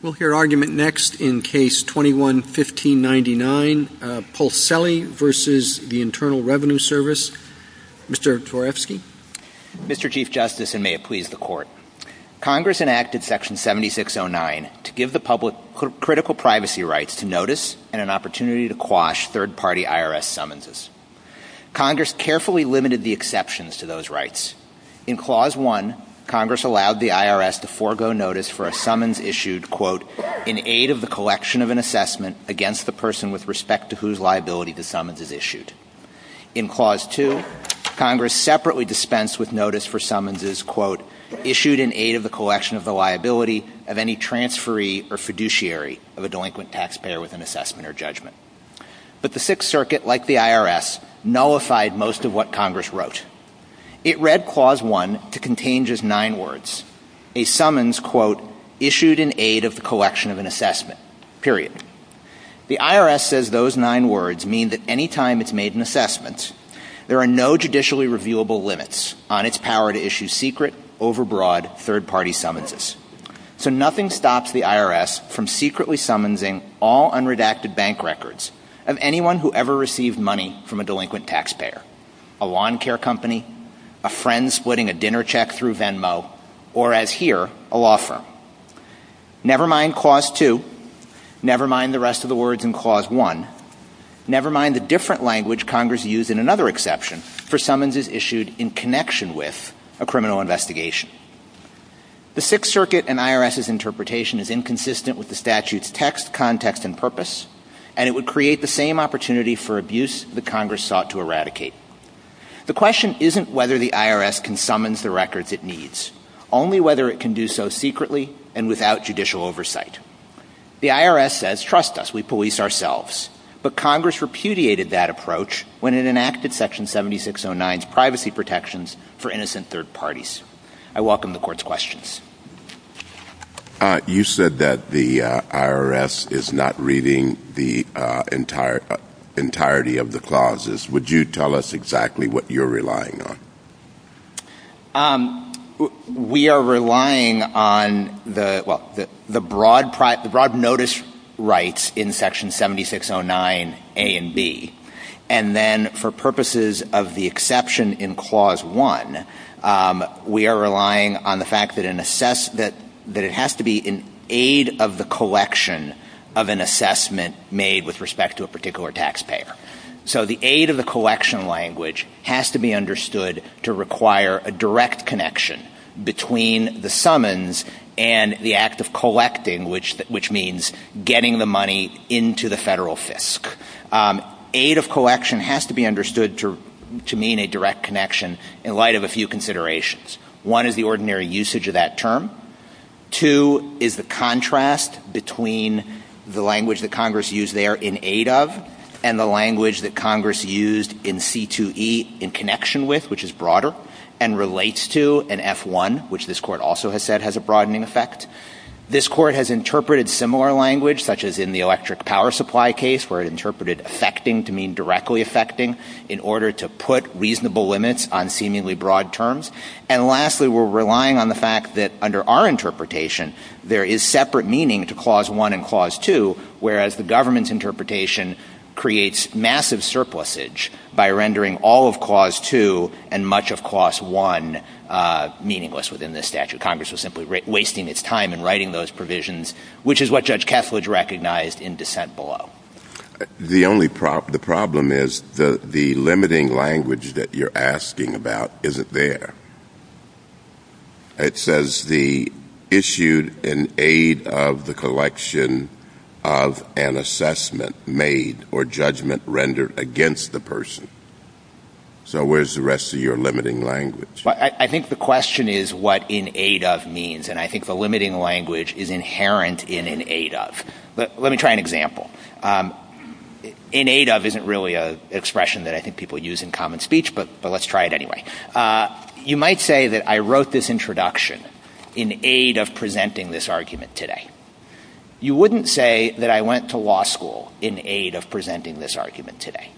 We'll hear argument next in Case 21-1599, Polselli v. the Internal Revenue Service. Mr. Twarewski. Mr. Chief Justice, and may it please the Court, Congress enacted Section 7609 to give the public critical privacy rights to notice and an opportunity to quash third-party IRS summonses. Congress carefully limited the exceptions to those rights. In Clause 1, Congress allowed the IRS to forego notice for a summons issued, quote, in aid of the collection of an assessment against the person with respect to whose liability the summons is issued. In Clause 2, Congress separately dispensed with notice for summonses, quote, issued in aid of the collection of the liability of any transferee or fiduciary of a delinquent taxpayer with an assessment or judgment. But the Sixth Circuit, like the IRS, nullified most of what Congress wrote. It read Clause 1 to contain just nine words, a summons, quote, issued in aid of the collection of an assessment, period. The IRS says those nine words mean that any time it's made an assessment, there are no judicially reviewable limits on its power to issue secret, overbroad third-party summonses. So nothing stops the IRS from secretly a lawn care company, a friend splitting a dinner check through Venmo, or, as here, a law firm. Never mind Clause 2. Never mind the rest of the words in Clause 1. Never mind the different language Congress used in another exception for summonses issued in connection with a criminal investigation. The Sixth Circuit and IRS's interpretation is inconsistent with the statute's text, context and purpose, and it would create the same opportunity for abuse that Congress sought to eradicate. The question isn't whether the IRS can summons the records it needs, only whether it can do so secretly and without judicial oversight. The IRS says, trust us, we police ourselves. But Congress repudiated that approach when it enacted Section 7609's privacy protections for innocent third parties. I welcome the Court's questions. You said that the IRS is not reading the entirety of the clauses. Would you tell us exactly what you're relying on? We are relying on the broad notice rights in Section 7609A and B. And then, for purposes of the exception in Clause 1, we are relying on the fact that it has to be in aid of the collection of an assessment made with respect to a particular taxpayer. So the aid of the collection language has to be understood to require a direct connection between the summons and the act of collecting, which means getting the money into the federal fisc. Aid of collection has to be understood to mean a direct connection in light of a few considerations. One is the ordinary usage of that term. Two is the contrast between the language that Congress used there in aid of and the language that Congress used in C2E in connection with, which is broader, and relates to an F1, which this Court also has said has a broadening effect. This Court has interpreted similar language, such as in the electric power supply case, where it is affecting in order to put reasonable limits on seemingly broad terms. And lastly, we're relying on the fact that under our interpretation, there is separate meaning to Clause 1 and Clause 2, whereas the government's interpretation creates massive surplusage by rendering all of Clause 2 and much of Clause 1 meaningless within this statute. Congress was simply wasting its time in writing those provisions, which is what Judge Kethledge recognized in dissent below. The only problem, the problem is the limiting language that you're asking about isn't there. It says the issued in aid of the collection of an assessment made or judgment rendered against the person. So where's the rest of your limiting language? I think the question is what in aid of means, and I think the limiting language is inherent in an aid of. Let me try an example. In aid of isn't really an expression that I think people use in common speech, but let's try it anyway. You might say that I wrote this introduction in aid of presenting this argument today. You wouldn't say that I went to law school in aid of presenting this argument today.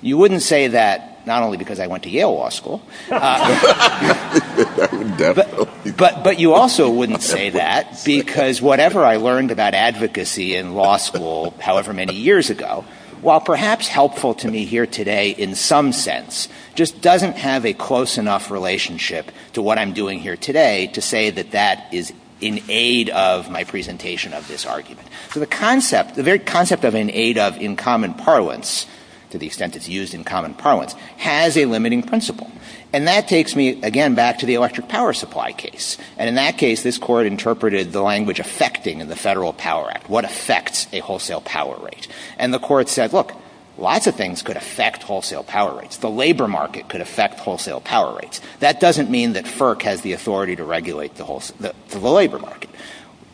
You wouldn't say that not only because I went to Yale Law School, but you also wouldn't say that because whatever I wrote in aid of I learned about advocacy in law school however many years ago, while perhaps helpful to me here today in some sense, just doesn't have a close enough relationship to what I'm doing here today to say that that is in aid of my presentation of this argument. So the concept, the very concept of an aid of in common parlance, to the extent it's used in common parlance, has a limiting principle. And that takes me, again, back to the electric power supply case. And in that case, this Court interpreted the language affecting in the Federal Power Act, what affects a wholesale power rate. And the Court said, look, lots of things could affect wholesale power rates. The labor market could affect wholesale power rates. That doesn't mean that FERC has the authority to regulate the labor market.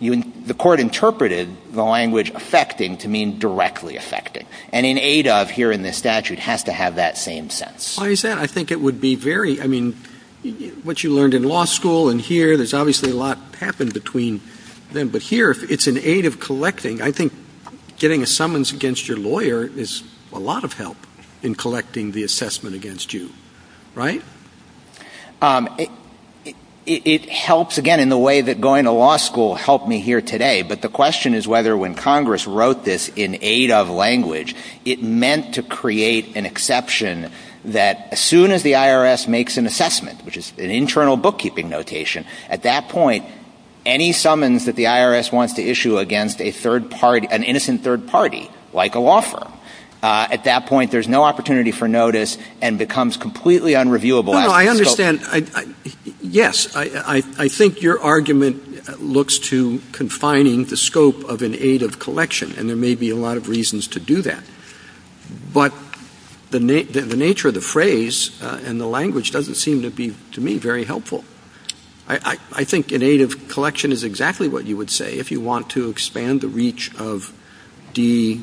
The Court interpreted the language affecting to mean directly affecting. And in aid of here in this statute has to have that same sense. Why is that? I think it would be very ‑‑ I mean, what you learned in law school and here, there's obviously a lot happened between them. But here, it's in aid of collecting. I think getting a summons against your lawyer is a lot of help in collecting the assessment against you. Right? It helps, again, in the way that going to law school helped me here today. But the question is whether when Congress wrote this in aid of language, it meant to create an exception that as soon as the IRS makes an assessment, which is an internal bookkeeping notation, at that point, any summons that the IRS wants to issue against a third party, an innocent third party, like a law firm, at that point, there's no opportunity for notice and becomes completely unreviewable. No, no. I understand. Yes. I think your argument looks to confining the scope of an aid of collection. And there may be a lot of reasons to do that. But the nature of the phrase and the language doesn't seem to be, to me, very helpful. I think an aid of collection is exactly what you would say if you want to expand the reach of D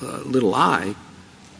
little I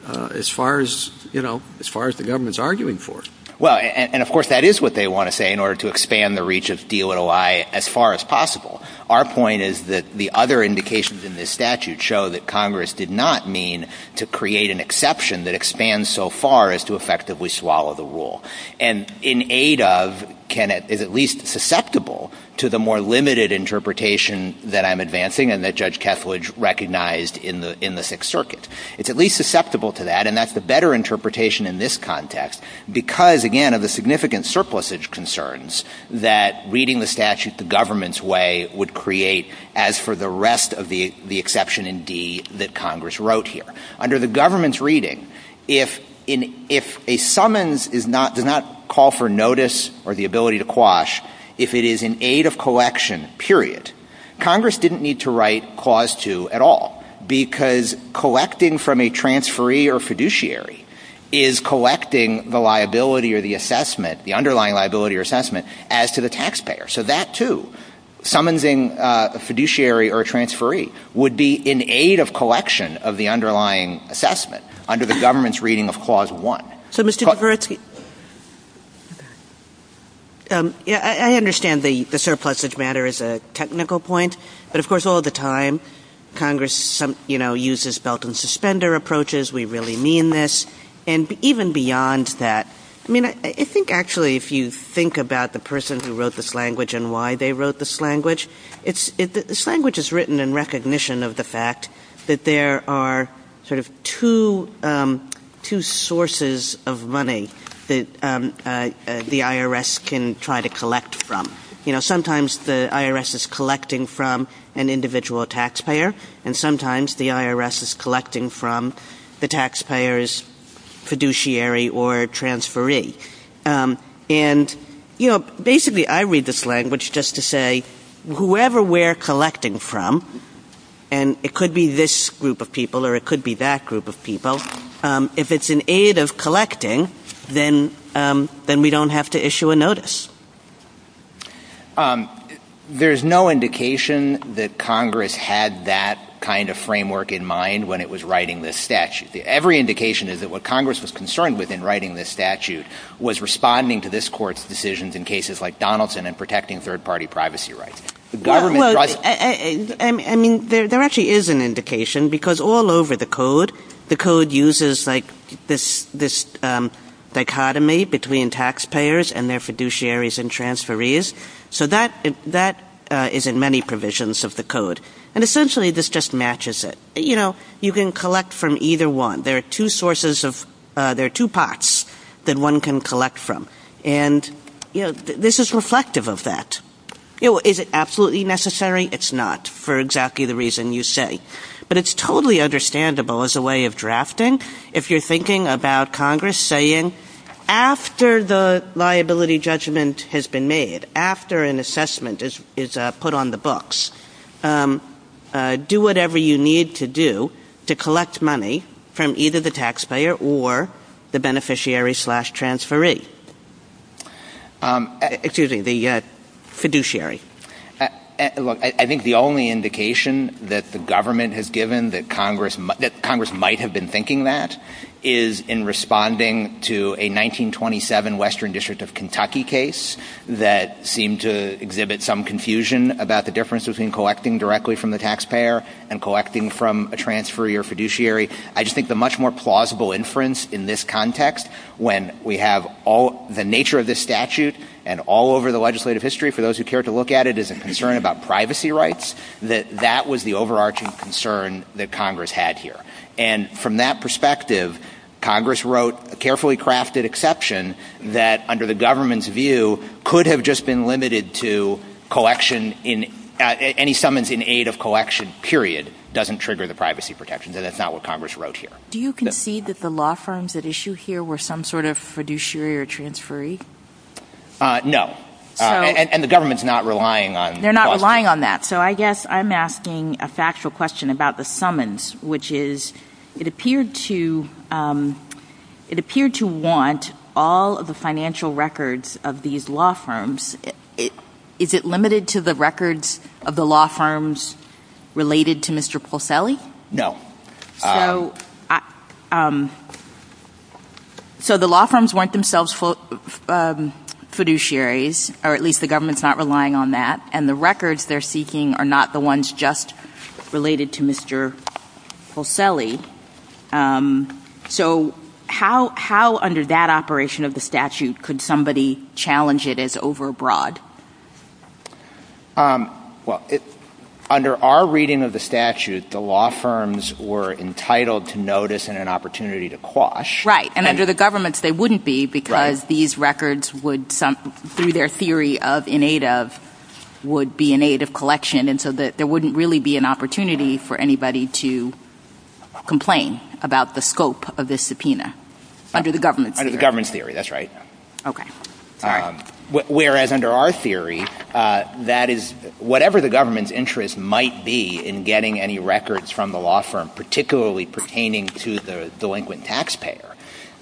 as far as, you know, as far as the government is arguing for. Well, and of course that is what they want to say in order to expand the reach of D little I as far as possible. Our point is that the other indications in this statute show that Congress did not mean to create an exception that expands so far as to effectively swallow the rule. And in aid of is at least susceptible to the more limited interpretation that I'm advancing and that Judge Kethledge recognized in the Sixth Circuit. It's at least susceptible to that. And that's the better interpretation in this context because, again, of the significant surplusage concerns that reading the statute the government's way would create as for the rest of the exception in D that Congress wrote here. Under the government's reading, if a summons does not call for notice or the ability to quash, if it is an aid of collection, period, Congress didn't need to write clause 2 at all because collecting from a transferee or fiduciary is collecting the liability or the assessment, the underlying liability or assessment as to the taxpayer. So that, too, summonsing a fiduciary or a transferee would be an aid of collection of the underlying assessment under the government's reading of Clause 1. So Mr. Kavaretsky, I understand the surplusage matter is a technical point. But of course all the time Congress, you know, uses belt and suspender approaches. We really mean this. And even beyond that, I mean, I think actually if you think about the person who wrote this language and why they wrote this language, it's this language is written in recognition of the fact that there are sort of two sources of money that the IRS can try to collect from. You know, sometimes the IRS is collecting from an individual taxpayer, and sometimes the IRS is collecting from the taxpayer's fiduciary or transferee. And, you know, basically I read this language just to say whoever we're collecting from, and it could be this group of people or it could be that group of people, if it's an aid of collecting, then we don't have to issue a notice. There's no indication that Congress had that kind of framework in mind when it was writing this statute. Every indication is that what Congress was concerned with in writing this statute was responding to this Court's decisions in cases like Donaldson and protecting third party privacy rights. Well, I mean, there actually is an indication because all over the code, the code uses like this dichotomy between taxpayers and their fiduciaries and transferees. So that is in many provisions of the code. And essentially this just matches it. You know, you can collect from either one. There are two sources of, there are two pots that one can collect from. And this is reflective of that. Is it absolutely necessary? It's not, for exactly the reason you say, but it's totally understandable as a way of drafting. If you're thinking about Congress saying, after the liability judgment has been made, after an assessment is put on the books, do whatever you need to do to collect money from either the taxpayer or the beneficiary slash transferee, excuse me, the fiduciary. I think the only indication that the government has given that Congress might have been thinking that is in responding to a 1927 Western District of Kentucky case that seemed to exhibit some confusion about the difference between collecting directly from the taxpayer and collecting from a transferee or fiduciary. I just think the much more plausible inference in this context when we have all the nature of this statute and all over the legislative history for those who care to look at it as a concern about privacy rights, that that was the overarching concern that Congress had here. And from that perspective, Congress wrote a carefully crafted exception that, under the government's view, could have just been limited to collection in, any summons in aid of collection, period, doesn't trigger the privacy protections. And that's not what Congress wrote here. Do you concede that the law firms at issue here were some sort of fiduciary or transferee? No. And the government's not relying on the question. They're not relying on that. So I guess I'm asking a factual question about the summons, which is, it appeared to want all of the financial records of these law firms. Is it limited to the records of the law firms related to Mr. Polselli? No. So the law firms weren't themselves fiduciaries, or at least the government's not relying on that, and the records they're seeking are not the ones just related to Mr. Polselli. So how, under that operation of the statute, could somebody challenge it as overbroad? Well, under our reading of the statute, the law firms were entitled to notice and an opportunity to quash. Right. And under the government's, they wouldn't be, because these records would, through their theory of in aid of, would be in aid of collection. And so there wouldn't really be an opportunity for anybody to complain about the scope of this subpoena, under the government's theory. Under the government's theory, that's right. Okay. Sorry. Whereas under our theory, that is, whatever the government's interest might be in getting any records from the law firm, particularly pertaining to the delinquent taxpayer,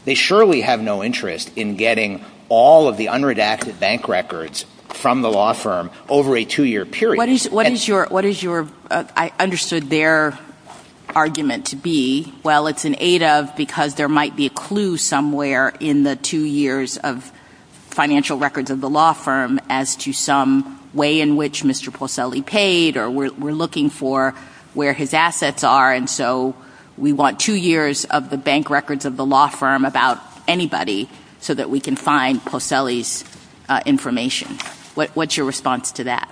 they surely have no interest in getting all of the unredacted bank records from the law firm over a two-year period. What is your, I understood their argument to be, well, it's in aid of because there aren't in the two years of financial records of the law firm as to some way in which Mr. Posselli paid, or we're looking for where his assets are, and so we want two years of the bank records of the law firm about anybody so that we can find Posselli's information. What's your response to that?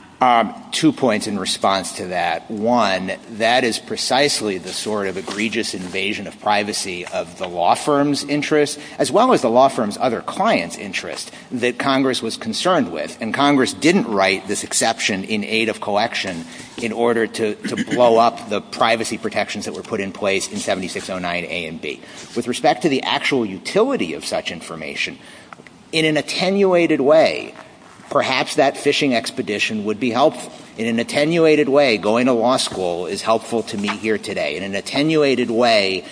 Two points in response to that. One, that is precisely the sort of egregious invasion of privacy of the law firm's interests, as well as the law firm's other clients' interests that Congress was concerned with, and Congress didn't write this exception in aid of collection in order to blow up the privacy protections that were put in place in 7609A and B. With respect to the actual utility of such information, in an attenuated way, perhaps that phishing expedition would be helpful. In an attenuated way, going to law school is helpful to me here today. In an attenuated way,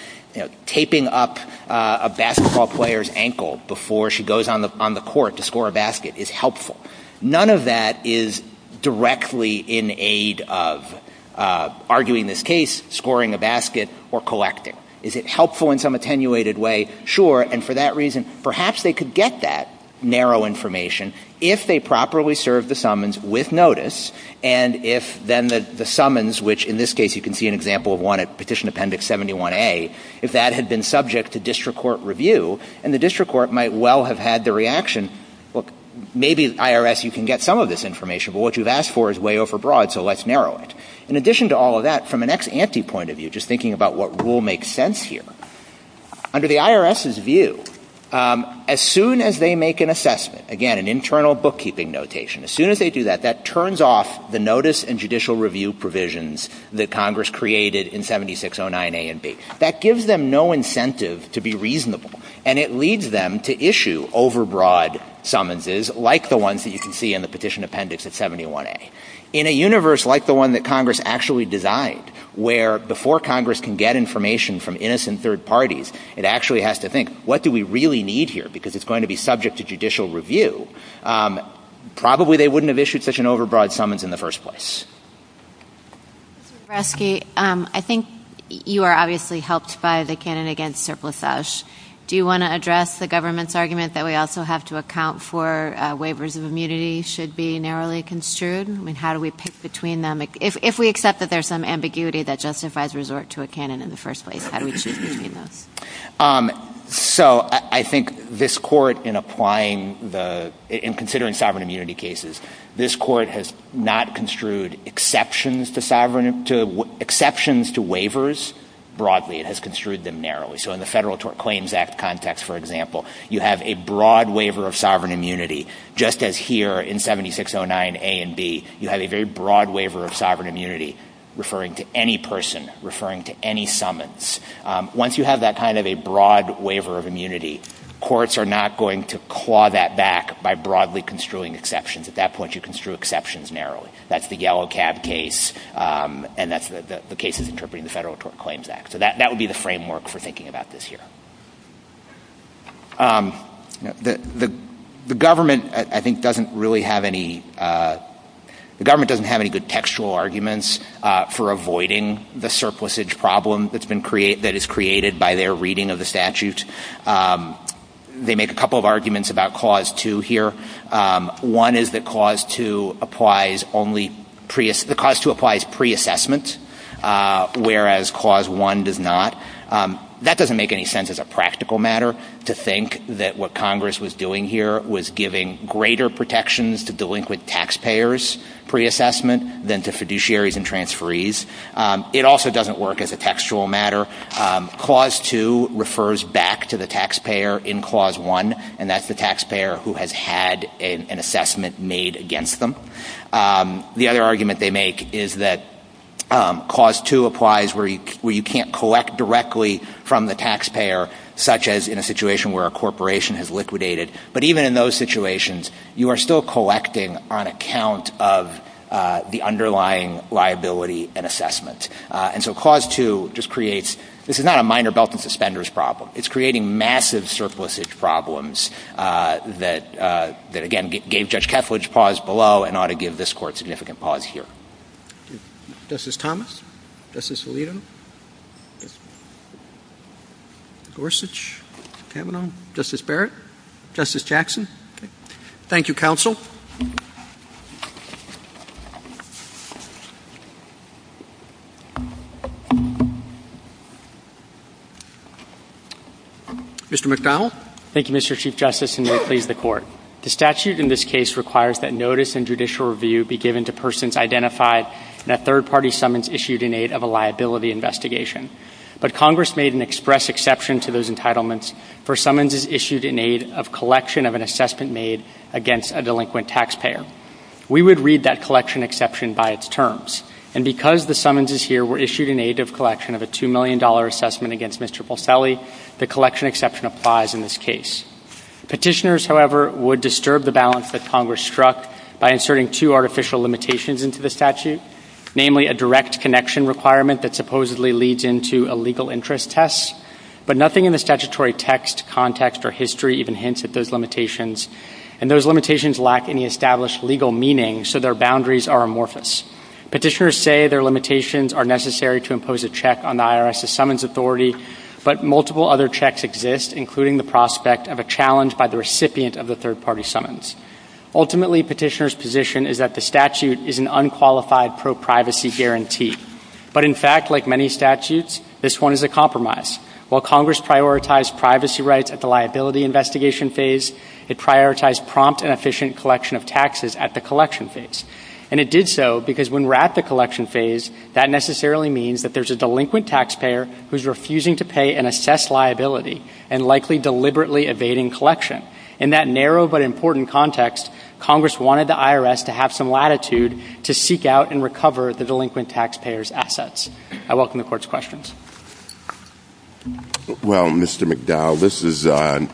taping up a basketball player's ankle before she goes on the court to score a basket is helpful. None of that is directly in aid of arguing this case, scoring a basket, or collecting. Is it helpful in some attenuated way? Sure. And for that reason, perhaps they could get that narrow information if they could. In this case, you can see an example of one at Petition Appendix 71A, if that had been subject to district court review, and the district court might well have had the reaction, look, maybe, IRS, you can get some of this information, but what you've asked for is way overbroad, so let's narrow it. In addition to all of that, from an ex-ante point of view, just thinking about what rule makes sense here, under the IRS's view, as soon as they make an assessment, again, an internal bookkeeping notation, as soon as they do that, that turns off the notice and judicial review provisions that Congress created in 7609A and B. That gives them no incentive to be reasonable, and it leads them to issue overbroad summonses like the ones that you can see in the Petition Appendix at 71A. In a universe like the one that Congress actually designed, where before Congress can get information from innocent third parties, it actually has to think, what do we really need here, because it's going to be subject to judicial review, probably they wouldn't have issued such an overbroad summons in the first place. MS. MCBRIDE Mr. Braske, I think you are obviously helped by the canon against surplusage. Do you want to address the government's argument that we also have to account for waivers of immunity should be narrowly construed? I mean, how do we pick between them? If we accept that there's some ambiguity that justifies resort to a canon in the first place, how do we choose between those? MR. BRASKE So I think this Court, in applying the – in considering sovereign immunity cases, this Court has not construed exceptions to sovereign – to exceptions to waivers broadly. It has construed them narrowly. So in the Federal Claims Act context, for example, you have a broad waiver of sovereign immunity, just as here in 7609a and b, you have a very broad waiver of sovereign immunity referring to any person, referring to any summons. Once you have that kind of a broad waiver of immunity, courts are not going to claw that back by broadly construing exceptions. At that point, you construe exceptions narrowly. That's the Yellow Cab case, and that's the cases interpreting the Federal Claims Act. So that would be the framework for thinking about this here. The government, I think, doesn't really have any – the government doesn't have any good textual arguments for avoiding the surplusage problem that's been – that is created by their reading of the statute. They make a couple of arguments about Clause 2 here. One is that Clause 2 applies only pre – that Clause 2 applies preassessment, whereas Clause 1 does not. That doesn't make any sense as a practical matter to think that what Congress was doing here was giving greater protections to delinquent taxpayers preassessment than to fiduciaries and transferees. It also doesn't work as a textual matter. Clause 2 refers back to the taxpayer in Clause 1, and that's the taxpayer who has had an assessment made against them. The other argument they make is that Clause 2 applies where you can't collect directly from the taxpayer, such as in a situation where a corporation has liquidated. But even in those situations, you are still collecting on account of the underlying liability and assessment. And so Clause 2 just creates – this is not a minor belt and suspenders problem. It's creating massive surplusage problems that – that, again, gave Judge Keflage pause below and ought to give this Court significant pause here. Justice Thomas? Justice Alito? Gorsuch? Kavanaugh? Justice Barrett? Justice Jackson? Okay. Thank you, counsel. Mr. McDonald? Thank you, Mr. Chief Justice, and may it please the Court. The statute in this case requires that notice and judicial review be given to persons identified in a third-party summons issued in aid of a liability investigation. But Congress made an express exception to those entitlements for summonses issued in aid of collection of an assessment made against a delinquent taxpayer. We would read that collection exception by its terms. And because the summonses here were issued in aid of collection of a $2 million assessment against Mr. Polselli, the collection exception applies in this case. Petitioners, however, would disturb the balance that Congress struck by inserting two artificial limitations into the statute, namely a direct connection requirement that supposedly leads into a legal interest test. But nothing in the statutory text, context, or history even hints at those limitations. And those limitations lack any established legal meaning, so their boundaries are amorphous. Petitioners say their limitations are necessary to impose a check on the IRS's summons authority, but multiple other checks exist, including the prospect of a challenge by the recipient of a third-party summons. Ultimately, petitioners' position is that the statute is an unqualified pro-privacy guarantee. But in fact, like many statutes, this one is a compromise. While Congress prioritized privacy rights at the liability investigation phase, it prioritized prompt and efficient collection of taxes at the collection phase. And it did so because when we're at the collection phase, that necessarily means that there's a delinquent taxpayer who's context, Congress wanted the IRS to have some latitude to seek out and recover the delinquent taxpayer's assets. I welcome the Court's questions. Well, Mr. McDowell, this is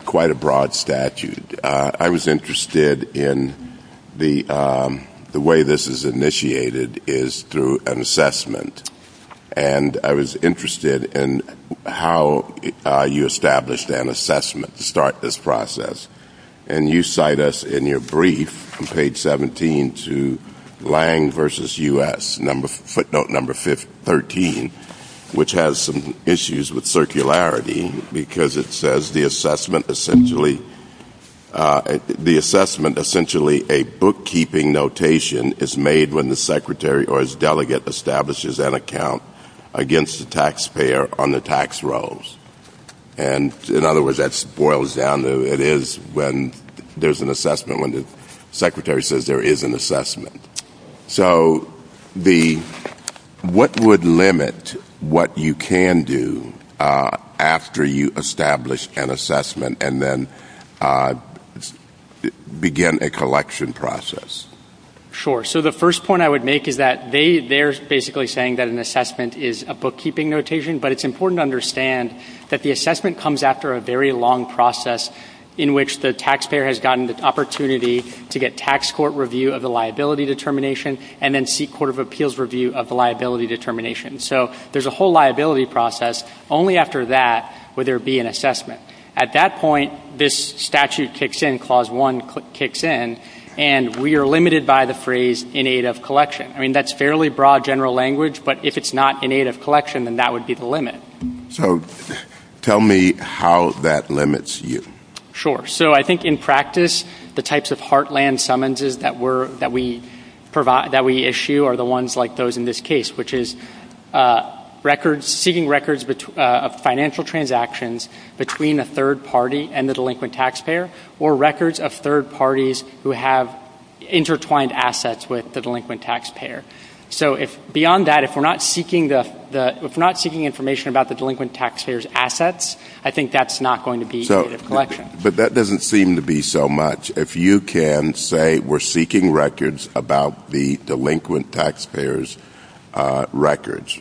quite a broad statute. I was interested in the way this is initiated is through an assessment. And I was interested in how you established an assessment process. And you cite us in your brief on page 17 to Lange v. U.S., footnote number 13, which has some issues with circularity because it says the assessment essentially a bookkeeping notation is made when the secretary or his delegate establishes an account against the taxpayer on the tax rolls. And in other words, that boils down to it is when there's an assessment, when the secretary says there is an assessment. So the, what would limit what you can do after you establish an assessment and then begin a collection process? Sure. So the first point I would make is that they, they're basically saying that an assessment is a bookkeeping notation, but it's important to understand that the assessment comes after a very long process in which the taxpayer has gotten the opportunity to get tax court review of the liability determination and then seek court of appeals review of the liability determination. So there's a whole liability process. Only after that would there be an assessment. At that point, this statute kicks in, Clause 1 kicks in, and we are limited by the phrase in aid of collection. I mean, that's fairly broad general language, but if it's not in aid of collection, then that would be the limit. So tell me how that limits you. Sure. So I think in practice, the types of heartland summonses that were, that we provide, that we issue are the ones like those in this case, which is records, seeking records of financial transactions between a third party and the delinquent taxpayer or records of third parties who have intertwined assets with the delinquent taxpayer. So if beyond that, if we're not seeking the, if we're not seeking information about the delinquent taxpayer's assets, I think that's not going to be in aid of collection. But that doesn't seem to be so much. If you can say we're seeking records about the delinquent taxpayer's records,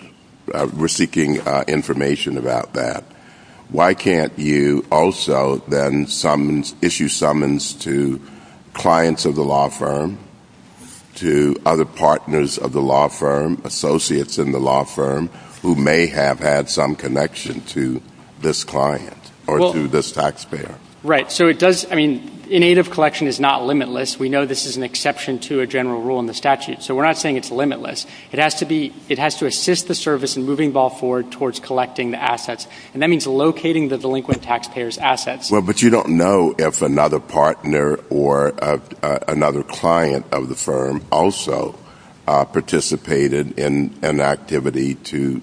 we're seeking information about that, why can't you also then summons, issue summons to clients of the law firm, to other partners of the law firm, associates in the law firm who may have had some connection to this client or to this taxpayer? Right. So it does, I mean, in aid of collection is not limitless. We know this is an exception to a general rule in the statute. So we're not saying it's limitless. It has to be, it has to assist the service in moving the ball forward towards collecting the assets. And Well, but you don't know if another partner or another client of the firm also participated in an activity to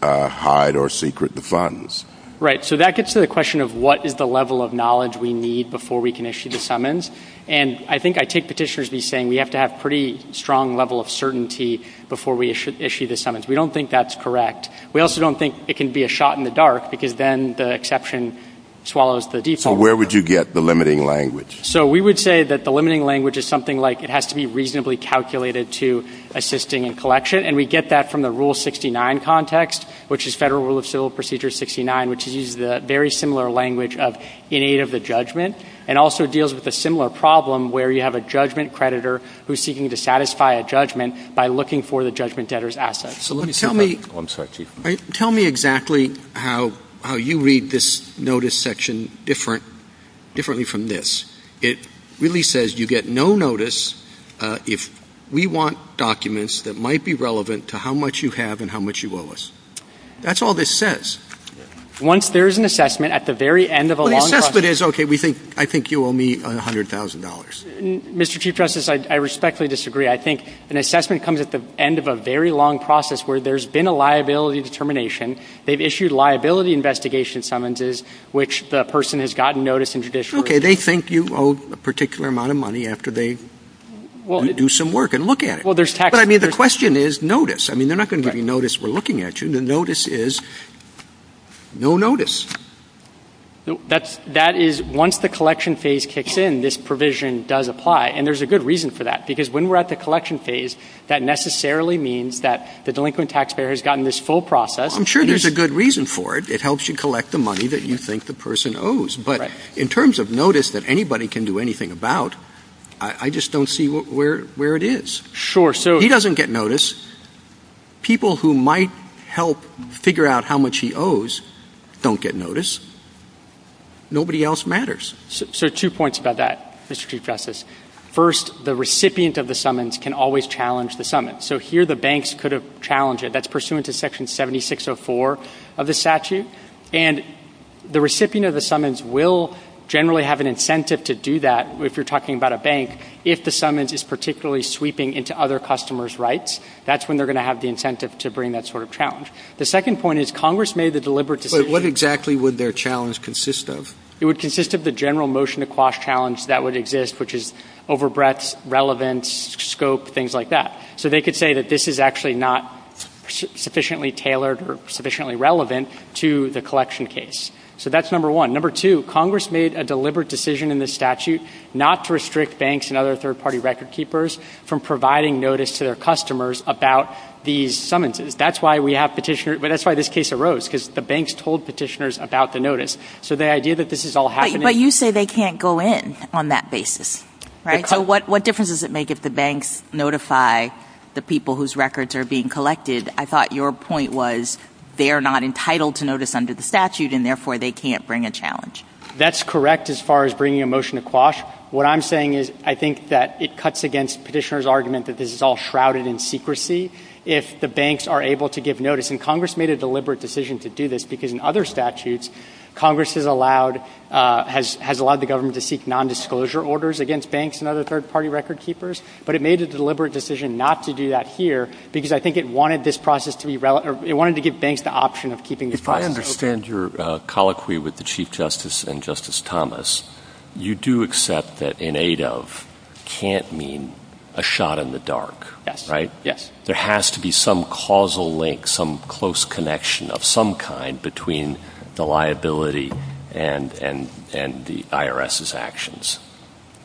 hide or secret the funds. Right. So that gets to the question of what is the level of knowledge we need before we can issue the summons. And I think I take petitioners to be saying we have to have pretty strong level of certainty before we issue the summons. We don't think that's correct. We also don't think it can be a shot in the dark because then the exception swallows the default. So where would you get the limiting language? So we would say that the limiting language is something like it has to be reasonably calculated to assisting in collection. And we get that from the Rule 69 context, which is Federal Rule of Civil Procedure 69, which uses the very similar language of in aid of the judgment and also deals with a similar problem where you have a judgment creditor who's seeking to satisfy a judgment by looking for the judgment debtor's assets. So let me tell me. I'm sorry, Chief. Tell me exactly how how you read this notice section different differently from this. It really says you get no notice if we want documents that might be relevant to how much you have and how much you owe us. That's all this says. Once there is an assessment at the very end of a long assessment is OK, we think I think you owe me one hundred thousand dollars. Mr. Chief Justice, I respectfully disagree. I think an assessment comes at the end of a very long process where there's been a liability determination. They've issued liability investigation summonses, which the person has gotten notice in judicial OK. They think you owe a particular amount of money after they do some work and look at it. Well, there's tax. But I mean, the question is notice. I mean, they're not going to give you notice. We're looking at you. The notice is no notice. That's that is once the collection phase kicks in, this provision does apply. And there's a good reason for that, because when we're at the collection phase, that necessarily means that the delinquent taxpayer has gotten this full process. I'm sure there's a good reason for it. It helps you collect the money that you think the person owes. But in terms of notice that anybody can do anything about, I just don't see where where it is. Sure. So he doesn't get notice. People who might help figure out how much he owes don't get notice. Nobody else matters. So two points about that, Mr. Chief Justice. First, the recipient of the summons can always challenge the summons. So here the banks could have challenged it. That's pursuant to Section 7604 of the statute. And the recipient of the summons will generally have an incentive to do that. If you're talking about a bank, if the summons is particularly sweeping into other customers' rights, that's when they're going to have the incentive to bring that sort of challenge. The second point is Congress made the deliberate decision. But what exactly would their challenge consist of? It would consist of the general motion to quash challenge that would exist, which is overbreadth, relevance, scope, things like that. So they could say that this is actually not sufficiently tailored or sufficiently relevant to the collection case. So that's number one. Number two, Congress made a deliberate decision in the statute not to restrict banks and other third party record keepers from providing notice to their customers about these summonses. That's why we have petitioners. But that's why this case arose, because the banks told petitioners about the notice. So the idea that this is all happening. But you say they can't go in on that basis. Right. So what difference does it make if the banks notify the people whose records are being collected? I thought your point was they are not entitled to notice under the statute and therefore they can't bring a challenge. That's correct. As far as bringing a motion to quash, what I'm saying is I think that it cuts against petitioners argument that this is all shrouded in secrecy. If the banks are able to give notice and Congress made a deliberate decision to do this because in other statutes, Congress has allowed has has allowed the government to seek nondisclosure orders against banks and other third party record keepers. But it made a deliberate decision not to do that here because I think it wanted this process to be relevant. It wanted to give banks the option of keeping this. If I understand your colloquy with the chief justice and Justice Thomas, you do accept that in aid of can't mean a shot in the dark. Yes. Right. Yes. There has to be some causal link, some close connection of some kind between the IRS's actions.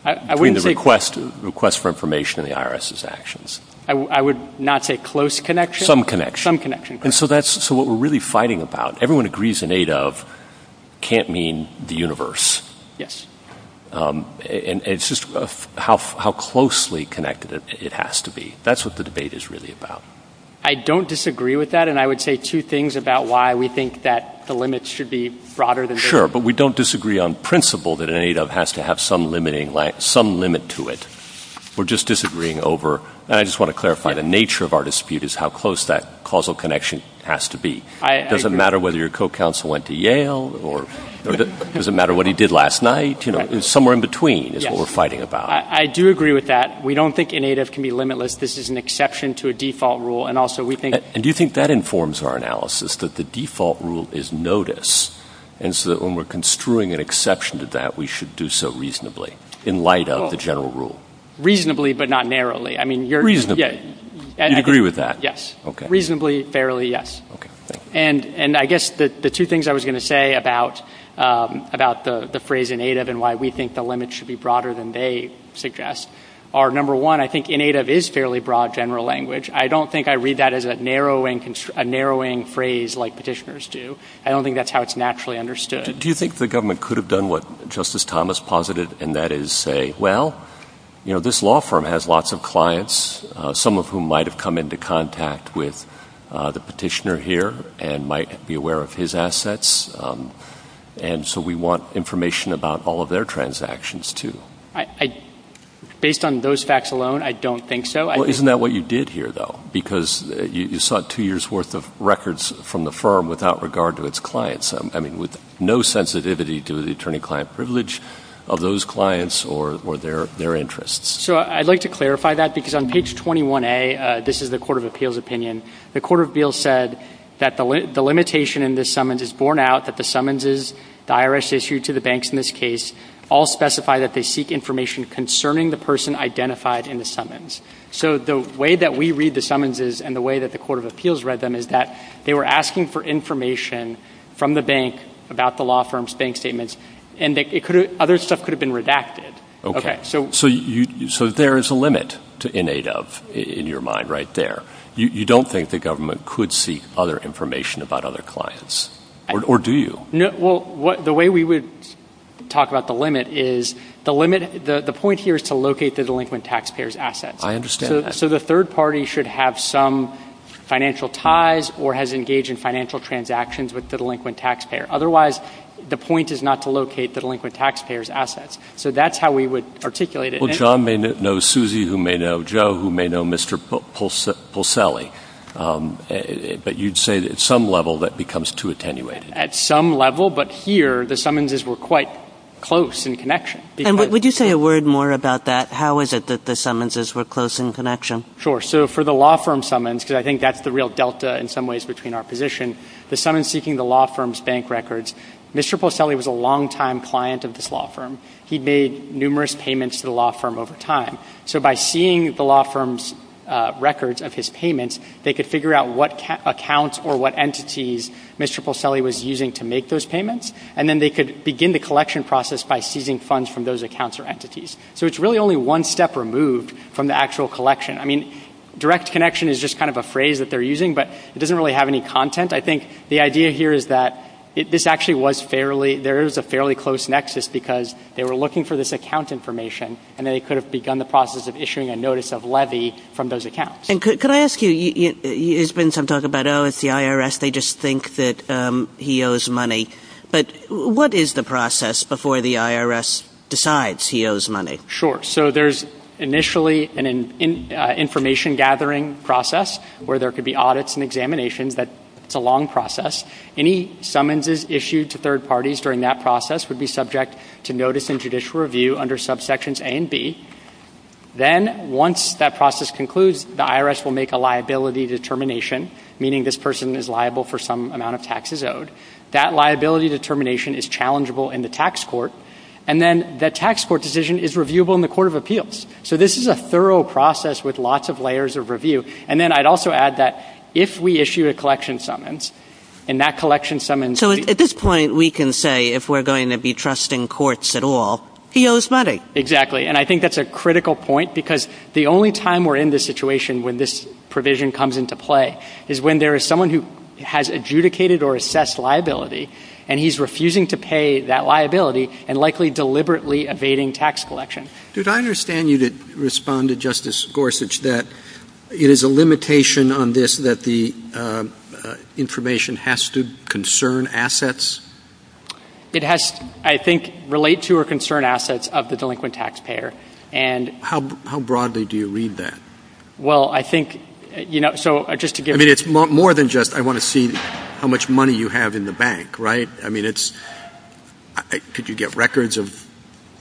I wouldn't say request request for information in the IRS's actions. I would not say close connection, some connection, some connection. And so that's so what we're really fighting about. Everyone agrees in aid of can't mean the universe. Yes. And it's just how how closely connected it has to be. That's what the debate is really about. I don't disagree with that. And I would say two things about why we think that the limits should be broader than Sure. But we don't disagree on principle that it has to have some limiting some limit to it. We're just disagreeing over. I just want to clarify the nature of our dispute is how close that causal connection has to be. It doesn't matter whether your co-counsel went to Yale or doesn't matter what he did last night. You know, somewhere in between is what we're fighting about. I do agree with that. We don't think in aid of can be limitless. This is an exception to a default rule. And also we think. And do you think that informs our analysis that the default rule is notice. And so that when we're construing an exception to that, we should do so reasonably in light of the general rule. Reasonably, but not narrowly. I mean, you're reasonable. And I agree with that. Yes. OK. Reasonably, fairly. Yes. OK. And and I guess the two things I was going to say about about the phrase in aid of and why we think the limits should be broader than they suggest are number one, I think in aid of is fairly broad general language. I don't think I read that as a narrow and a narrowing phrase like petitioners do. I don't think that's how it's naturally understood. Do you think the government could have done what Justice Thomas posited? And that is say, well, you know, this law firm has lots of clients, some of whom might have come into contact with the petitioner here and might be aware of his assets. And so we want information about all of their transactions, too. I based on those facts alone, I don't think so. Isn't that what you did here, though? Because you sought two years worth of records from the firm without regard to its clients. I mean, with no sensitivity to the attorney client privilege of those clients or or their their interests. So I'd like to clarify that, because on page 21a, this is the Court of Appeals opinion. The Court of Appeals said that the limitation in this summons is borne out, that the summonses the IRS issued to the banks in this case all specify that they seek information concerning the person identified in the summons. So the way that we read the summonses and the way that the Court of Appeals read them is that they were asking for information from the bank about the law firm's bank statements. And it could have other stuff could have been redacted. OK, so so you so there is a limit to in aid of in your mind right there. You don't think the government could seek other information about other clients or do you know? Well, the way we would talk about the limit is the limit. The point here is to locate the delinquent taxpayers assets. I understand. So the third party should have some financial ties or has engaged in financial transactions with the delinquent taxpayer. Otherwise, the point is not to locate the delinquent taxpayers assets. So that's how we would articulate it. Well, John may know Susie, who may know Joe, who may know Mr. Pulselli. But you'd say that at some level that becomes too attenuated at some level. But here the summonses were quite close in connection. Would you say a word more about that? How is it that the summonses were close in connection? Sure. So for the law firm summons, because I think that's the real delta in some ways between our position, the summons seeking the law firm's bank records. Mr. Pulselli was a longtime client of this law firm. He made numerous payments to the law firm over time. So by seeing the law firm's records of his payments, they could figure out what accounts or what entities Mr. Pulselli was using to make those payments. And then they could begin the collection process by seizing funds from those accounts or one step removed from the actual collection. I mean, direct connection is just kind of a phrase that they're using, but it doesn't really have any content. I think the idea here is that this actually was fairly there is a fairly close nexus because they were looking for this account information and they could have begun the process of issuing a notice of levy from those accounts. And could I ask you, there's been some talk about, oh, it's the IRS. They just think that he owes money. But what is the process before the IRS decides he owes money? Sure. So there's initially an information gathering process where there could be audits and examinations. That's a long process. Any summonses issued to third parties during that process would be subject to notice in judicial review under subsections A and B. Then once that process concludes, the IRS will make a liability determination, meaning this person is liable for some amount of taxes owed. That liability determination is challengeable in the tax court. And then the tax court decision is reviewable in the court of appeals. So this is a thorough process with lots of layers of review. And then I'd also add that if we issue a collection summons and that collection summons. So at this point, we can say if we're going to be trusting courts at all, he owes money. Exactly. And I think that's a critical point because the only time we're in this situation when this provision comes into play is when there is someone who has adjudicated or assessed liability and he's refusing to pay that liability and likely deliberately evading tax collection. Did I understand you to respond to Justice Gorsuch that it is a limitation on this that the information has to concern assets? It has, I think, relate to or concern assets of the delinquent taxpayer. And how broadly do you read that? Well, I think, you know, so just to get it, it's more than just I want to see how much money you have in the bank. Right. I mean, it's could you get records of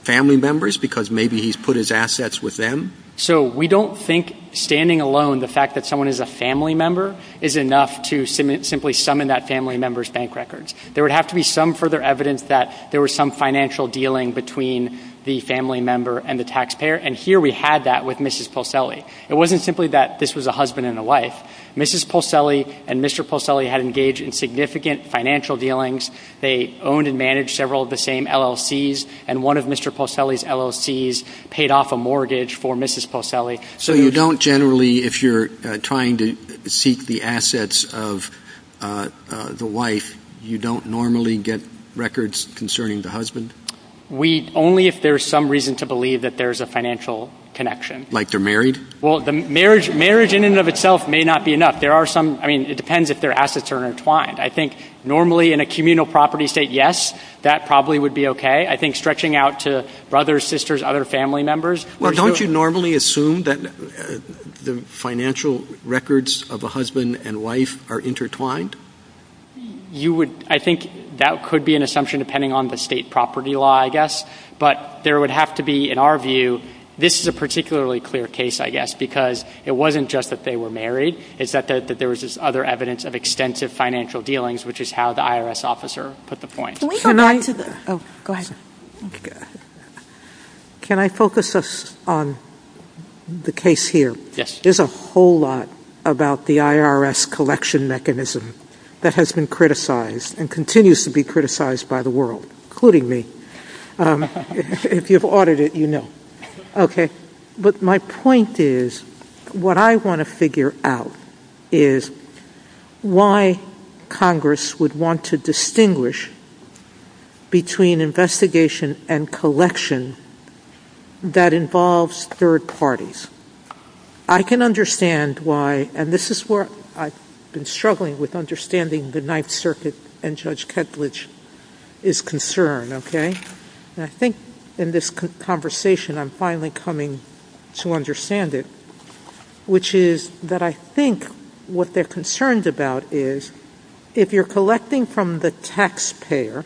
family members because maybe he's put his assets with them. So we don't think standing alone, the fact that someone is a family member is enough to simply summon that family member's bank records. There would have to be some further evidence that there was some financial dealing between the family member and the taxpayer. And here we had that with Mrs. Pulselli. It wasn't simply that this was a husband and a wife. Mrs. Pulselli and Mr. Pulselli had engaged in significant financial dealings. They owned and managed several of the same LLCs. And one of Mr. Pulselli's LLCs paid off a mortgage for Mrs. Pulselli. So you don't generally, if you're trying to seek the assets of the wife, you don't normally get records concerning the husband? We only if there's some reason to believe that there's a financial connection. Like they're married? Well, the marriage in and of itself may not be enough. There are some, I mean, it depends if their assets are intertwined. I think normally in a communal property state, yes, that probably would be okay. I think stretching out to brothers, sisters, other family members. Well, don't you normally assume that the financial records of a husband and wife are intertwined? You would, I think that could be an assumption depending on the state property law, I guess, but there would have to be, in our view, this is a particularly clear case, I guess, because it wasn't just that they were married, it's that there was this other evidence of extensive financial dealings, which is how the IRS officer put the point. Can I focus us on the case here? There's a whole lot about the IRS collection mechanism that has been criticized and continues to be criticized by the world, including me. If you've audited it, you know. Okay. But my point is, what I want to figure out is why Congress would want to distinguish between investigation and collection that involves third parties. I can understand why, and this is where I've been struggling with understanding the Ninth Circuit and Judge Ketledge is concerned, okay? And I think in this conversation, I'm finally coming to understand it, which is that I think what they're concerned about is if you're collecting from the taxpayer,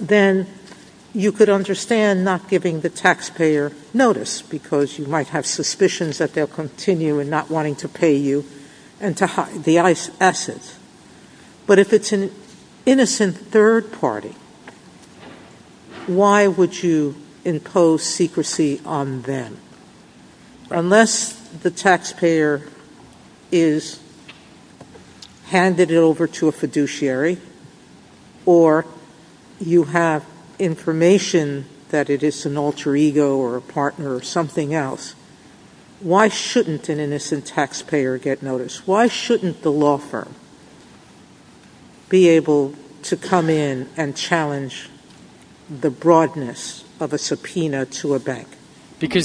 then you could understand not giving the taxpayer notice because you might have suspicions that they'll continue and not wanting to pay you and to hide the assets. But if it's an innocent third party, why would you impose secrecy on them? Unless the taxpayer is handed it over to a fiduciary or you have information that it is an alter ego or a partner or something else, why shouldn't an innocent taxpayer get notice? Why shouldn't the law firm? Be able to come in and challenge the broadness of a subpoena to a bank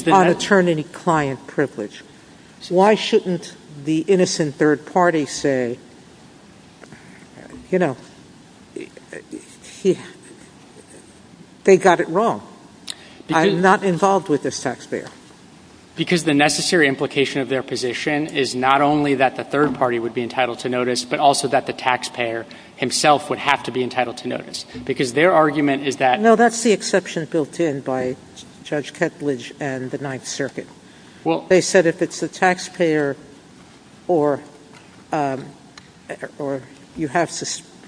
on attorney-client privilege. Why shouldn't the innocent third party say, you know, they got it wrong. I'm not involved with this taxpayer. Because the necessary implication of their position is not only that the third party would be entitled to notice, but also that the taxpayer himself would have to be entitled to notice because their argument is that no, that's the exception built in by judge Kettleidge and the ninth circuit. Well, they said if it's the taxpayer or, um, or you have,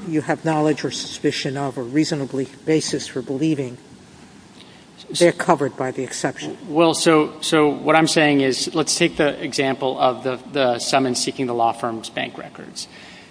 you have knowledge or suspicion of a reasonably basis for believing they're covered by the exception. Well, so, so what I'm saying is let's take the example of the, the summons seeking the law firm's bank records.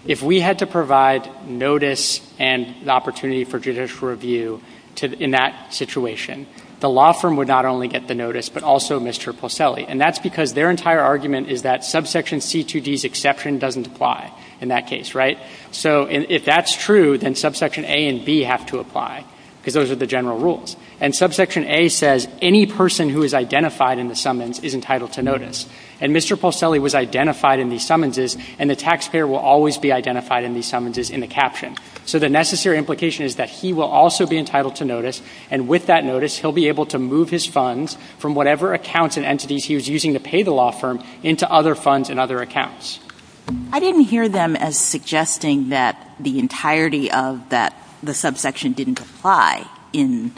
If we had to provide notice and the opportunity for judicial review to, in that situation, the law firm would not only get the notice, but also Mr. Polselli. And that's because their entire argument is that subsection C2D's exception doesn't apply in that case, right? So if that's true, then subsection A and B have to apply because those are the general rules. And subsection A says any person who is identified in the summons is entitled to notice. And Mr. Polselli was identified in these summonses and the taxpayer will always be identified in these summonses in the caption. So the necessary implication is that he will also be entitled to notice. And with that notice, he'll be able to move his funds from whatever accounts and entities he was using to pay the law firm into other funds and other accounts. I didn't hear them as suggesting that the entirety of that, the subsection didn't apply in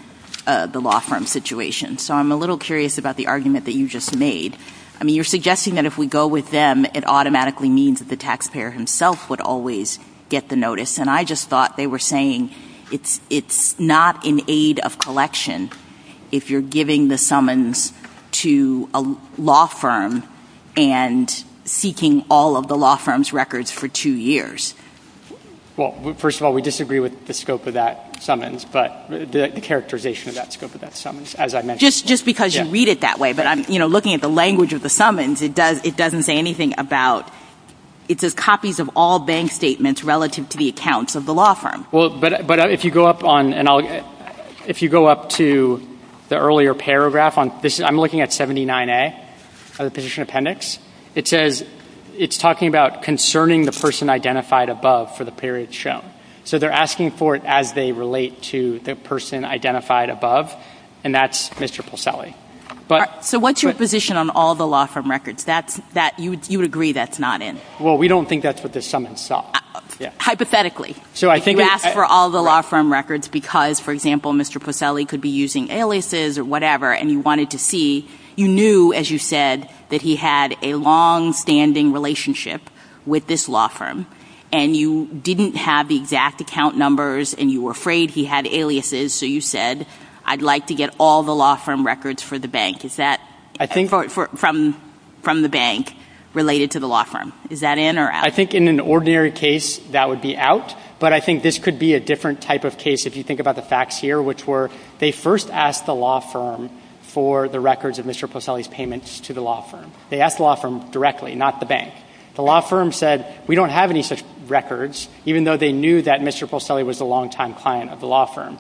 the law firm situation. So I'm a little curious about the argument that you just made. I mean, you're suggesting that if we go with them, it automatically means that the taxpayer himself would always get the notice. And I just thought they were saying it's, it's not an aid of collection if you're giving the summons to a law firm and seeking all of the law firm's records for two years. Well, first of all, we disagree with the scope of that summons, but the characterization of that scope of that summons, as I mentioned. Just, just because you read it that way, but I'm, you know, looking at the language of the summons, it does, it doesn't say anything about, it says copies of all bank statements relative to the accounts of the law firm. Well, but, but if you go up on, and I'll, if you go up to the earlier paragraph on this, I'm looking at 79A of the petition appendix, it says it's talking about concerning the person identified above for the period shown. So they're asking for it as they relate to the person identified above. And that's Mr. Posselli. But. So what's your position on all the law firm records? That's, that you would, you would agree that's not in. Well, we don't think that's what the summons saw. Hypothetically. So I think. You asked for all the law firm records because, for example, Mr. Posselli could be using aliases or whatever, and you wanted to see, you knew, as you said, that he had a longstanding relationship with this law firm and you didn't have the exact account numbers and you were afraid he had aliases. So you said, I'd like to get all the law firm records for the bank. Is that. I think. For, for, from, from the bank related to the law firm. Is that in or out? I think in an ordinary case that would be out, but I think this could be a different type of case if you think about the facts here, which were, they first asked the law firm for the records of Mr. Posselli's payments to the law firm. They asked the law firm directly, not the bank. The law firm said, we don't have any such records, even though they knew that Mr. Posselli was a longtime client of the law firm.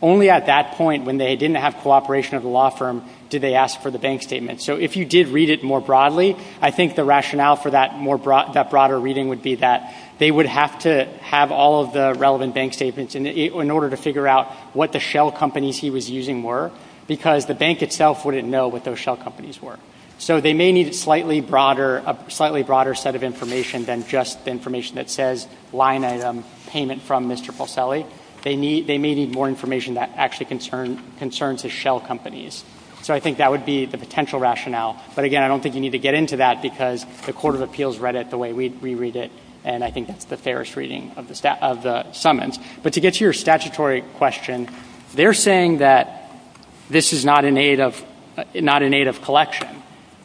Only at that point, when they didn't have cooperation of the law firm, did they ask for the bank statement. So if you did read it more broadly, I think the rationale for that more broad, that broader reading would be that they would have to have all of the relevant bank statements in order to figure out what the shell companies he was using were, because the bank itself wouldn't know what those shell companies were. So they may need a slightly broader, a slightly broader set of information than just the information that says line item payment from Mr. Posselli. They may need more information that actually concerns the shell companies. So I think that would be the potential rationale. But again, I don't think you need to get into that because the Court of Appeals read it the way we read it, and I think that's the fairest reading of the summons. But to get to your statutory question, they're saying that this is not in aid of collection.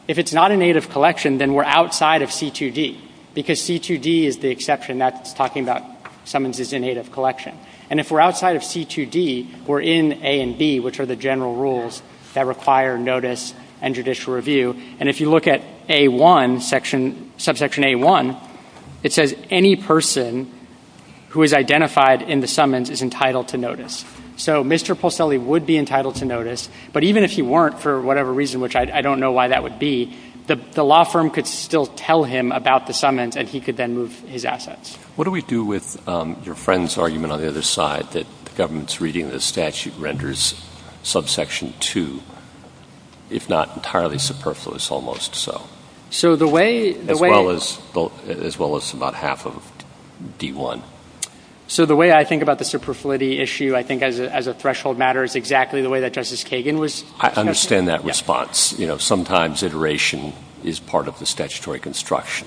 If it's not in aid of collection, then we're outside of C2D, because C2D is the exception that's talking about summons as in aid of collection. And if we're outside of C2D, we're in A and B, which are the general rules that require notice and judicial review. And if you look at A1, section, subsection A1, it says any person who is identified in the summons is entitled to notice. So Mr. Posselli would be entitled to notice, but even if he weren't for whatever reason, which I don't know why that would be, the law firm could still tell him about the summons and he could then move his assets. What do we do with your friend's argument on the other side that the government's reading of the statute renders subsection 2, if not entirely superfluous almost so, as well as about half of D1? So the way I think about the superfluity issue, I think as a threshold matter is exactly the way that Justice Kagan was. I understand that response. You know, sometimes iteration is part of the statutory construction.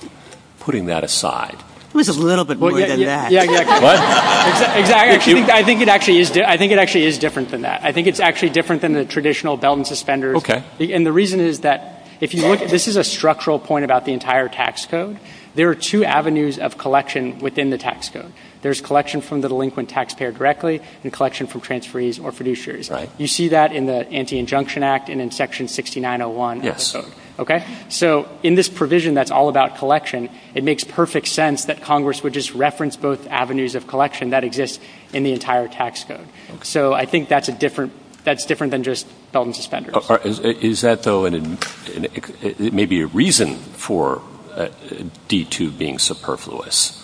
Putting that aside. It was a little bit more than that. Yeah, exactly. What? Exactly. I think it actually is different than that. I think it's actually different than the traditional belt and suspenders. Okay. And the reason is that if you look at, this is a structural point about the entire tax code. There are two avenues of collection within the tax code. There's collection from the delinquent taxpayer directly and collection from transferees or producers. You see that in the Anti-Injunction Act and in section 6901 of the code. Okay. So in this provision, that's all about collection. It makes perfect sense that Congress would just reference both avenues of collection that exists in the entire tax code. So I think that's a different, that's different than just belt and suspenders. Is that though, it may be a reason for D2 being superfluous,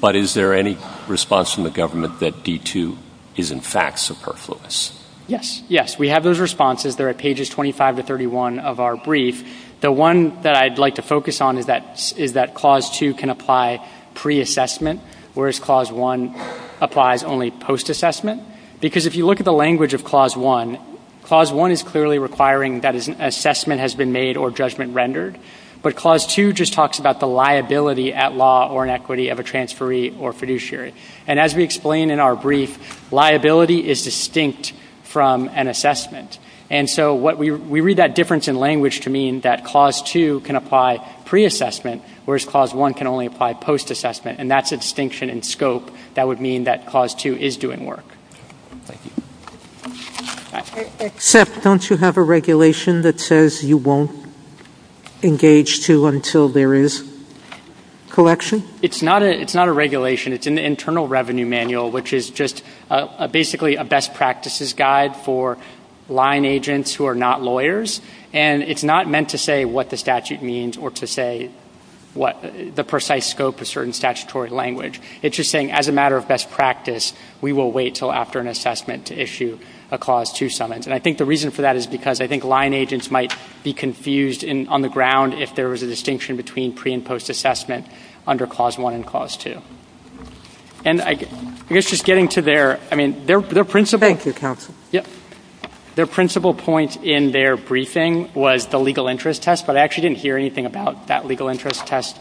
but is there any response from the government that D2 is in fact superfluous? Yes. Yes. We have those responses. They're at pages 25 to 31 of our brief. The one that I'd like to focus on is that, is that Clause 2 can apply pre-assessment whereas Clause 1 applies only post-assessment. Because if you look at the language of Clause 1, Clause 1 is clearly requiring that an assessment has been made or judgment rendered, but Clause 2 just talks about the liability at law or inequity of a transferee or fiduciary. And as we explained in our brief, liability is distinct from an assessment. And so what we, we read that difference in language to mean that Clause 2 can apply pre-assessment, whereas Clause 1 can only apply post-assessment. And that's a distinction in scope that would mean that Clause 2 is doing work. Except don't you have a regulation that says you won't engage to until there is collection? It's not a, it's not a regulation. It's an internal revenue manual, which is just a, basically a best practices guide for line agents who are not lawyers. And it's not meant to say what the statute means or to say what the precise scope of certain statutory language. It's just saying as a matter of best practice, we will wait till after an assessment to issue a Clause 2 summons. And I think the reason for that is because I think line agents might be confused in on the ground if there was a distinction between pre and post assessment under Clause 1 and Clause 2. And I guess just getting to their, I mean, their, their principle. Thank you, counsel. Yeah. Their principle point in their briefing was the legal interest test, but I actually didn't hear anything about that legal interest test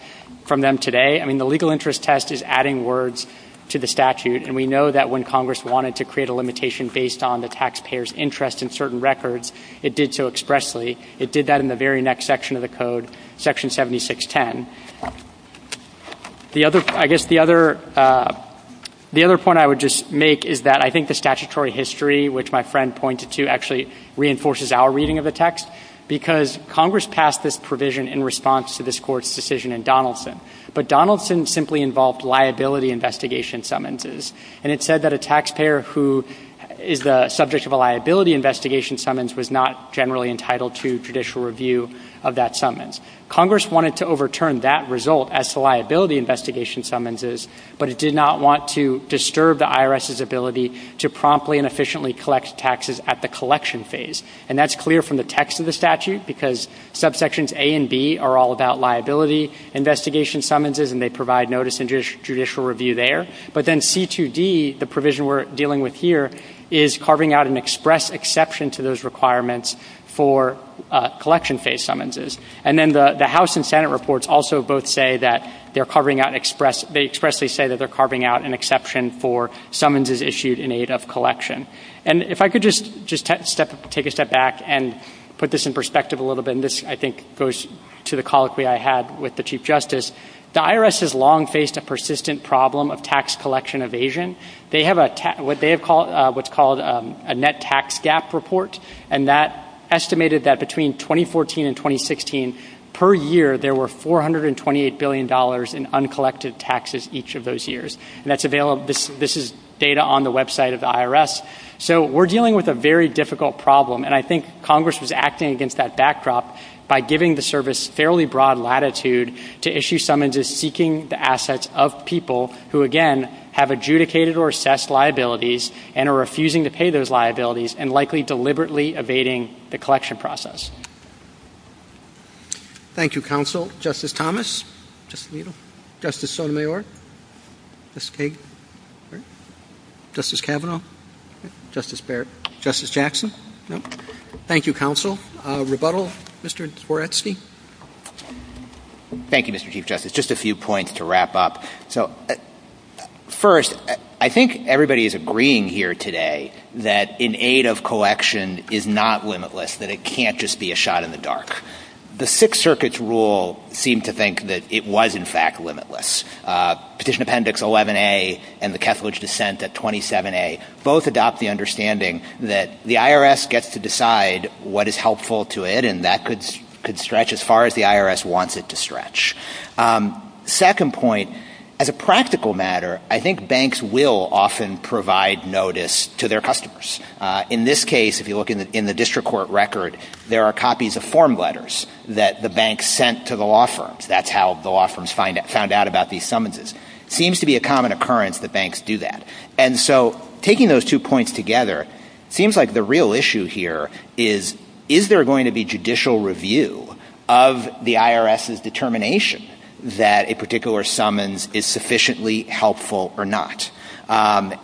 from them today. I mean, the legal interest test is adding words to the statute. And we know that when Congress wanted to create a limitation based on the taxpayer's interest in certain records, it did so expressly. It did that in the very next section of the code, Section 7610. The other, I guess the other, the other point I would just make is that I think the statutory history, which my friend pointed to, actually reinforces our reading of the text because Congress passed this provision in response to this court's decision in Donaldson. But Donaldson simply involved liability investigation summonses. And it said that a taxpayer who is the subject of a liability investigation summons was not generally entitled to judicial review of that summons. Congress wanted to overturn that result as to liability investigation summonses, but it did not want to disturb the IRS's ability to promptly and efficiently collect taxes at the collection phase. And that's clear from the text of the statute because subsections A and B are all about liability investigation summonses and they provide notice and judicial review there. But then C2D, the provision we're dealing with here, is carving out an express exception to those requirements for collection phase summonses. And then the House and Senate reports also both say that they're covering out an expressly say that they're carving out an exception for summonses issued in aid of collection. And if I could just take a step back and put this in perspective a little bit, and this, I think, goes to the colloquy I had with the Chief Justice, the IRS has long faced a persistent problem of tax collection evasion. They have what's called a net tax gap report, and that estimated that between 2014 and 2016 per year there were $428 billion in uncollected taxes each of those years. And that's available, this is data on the website of the IRS. So we're dealing with a very difficult problem, and I think Congress was acting against that backdrop by giving the service fairly broad latitude to issue summonses seeking the assets of people who, again, have adjudicated or assessed liabilities and are refusing to pay those liabilities and likely deliberately evading the collection process. Thank you, Counsel. Justice Thomas? Justice Alito? Justice Sotomayor? Justice Kagan? Justice Kavanaugh? Justice Barrett? Justice Jackson? Thank you, Counsel. Rebuttal? Mr. Dworetsky? Thank you, Mr. Chief Justice. Just a few points to wrap up. So first, I think everybody is agreeing here today that an aid of collection is not limitless, that it can't just be a shot in the dark. The Sixth Circuit's rule seemed to think that it was, in fact, limitless. Petition Appendix 11A and the Kethledge dissent at 27A both adopt the understanding that the IRS gets to decide what is helpful to it, and that could stretch as far as the IRS wants it to stretch. Second point, as a practical matter, I think banks will often provide notice to their customers. In this case, if you look in the district court record, there are copies of form letters that the bank sent to the law firms. That's how the law firms found out about these summonses. It seems to be a common occurrence that banks do that. And so taking those two points together, it seems like the real issue here is, is there going to be judicial review of the IRS's determination that a particular summons is sufficiently helpful or not? Again,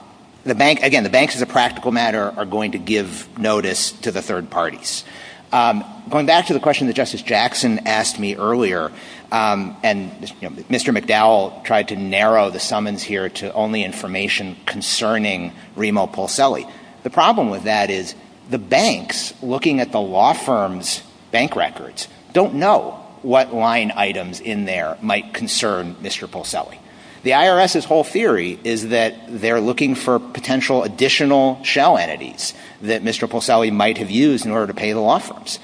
the banks, as a practical matter, are going to give notice to the third parties. Going back to the question that Justice Jackson asked me earlier, and Mr. McDowell tried to narrow the summons here to only information concerning Remo Pulselli, the problem with that is the banks, looking at the law firm's bank records, don't know what line items in there might concern Mr. Pulselli. The IRS's whole theory is that they're looking for potential additional shell entities that Mr. Pulselli might have used in order to pay the law firms.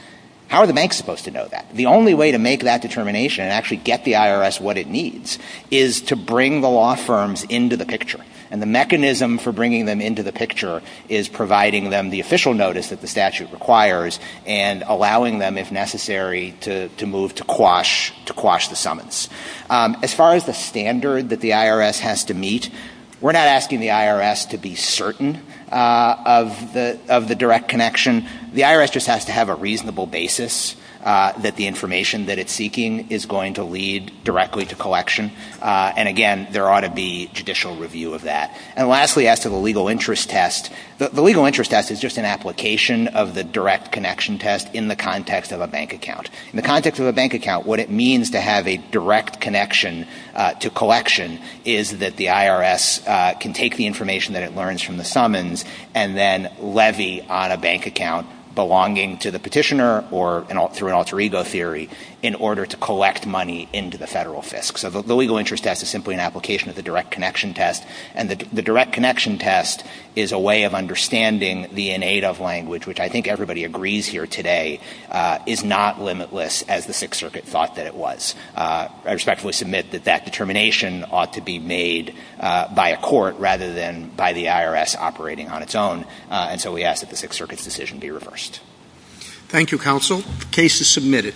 How are the banks supposed to know that? The only way to make that determination and actually get the IRS what it needs is to bring the law firms into the picture. And the mechanism for bringing them into the picture is providing them the official notice that the statute requires and allowing them, if necessary, to move to quash the summons. As far as the standard that the IRS has to meet, we're not asking the IRS to be certain of the direct connection. The IRS just has to have a reasonable basis that the information that it's seeking is going to lead directly to collection. And again, there ought to be judicial review of that. And lastly, as to the legal interest test, the legal interest test is just an application of the direct connection test in the context of a bank account. In the context of a bank account, what it means to have a direct connection to collection is that the IRS can take the information that it learns from the summons and then levy on a bank account belonging to the petitioner or through an alter ego theory in order to collect money into the federal fisc. So the legal interest test is simply an application of the direct connection test. And the direct connection test is a way of understanding the in-aid-of language, which I think everybody agrees here today, is not limitless as the Sixth Circuit thought that it was. I respectfully submit that that determination ought to be made by a court rather than by the IRS operating on its own. And so we ask that the Sixth Circuit's decision be reversed. Thank you, counsel. The case is submitted.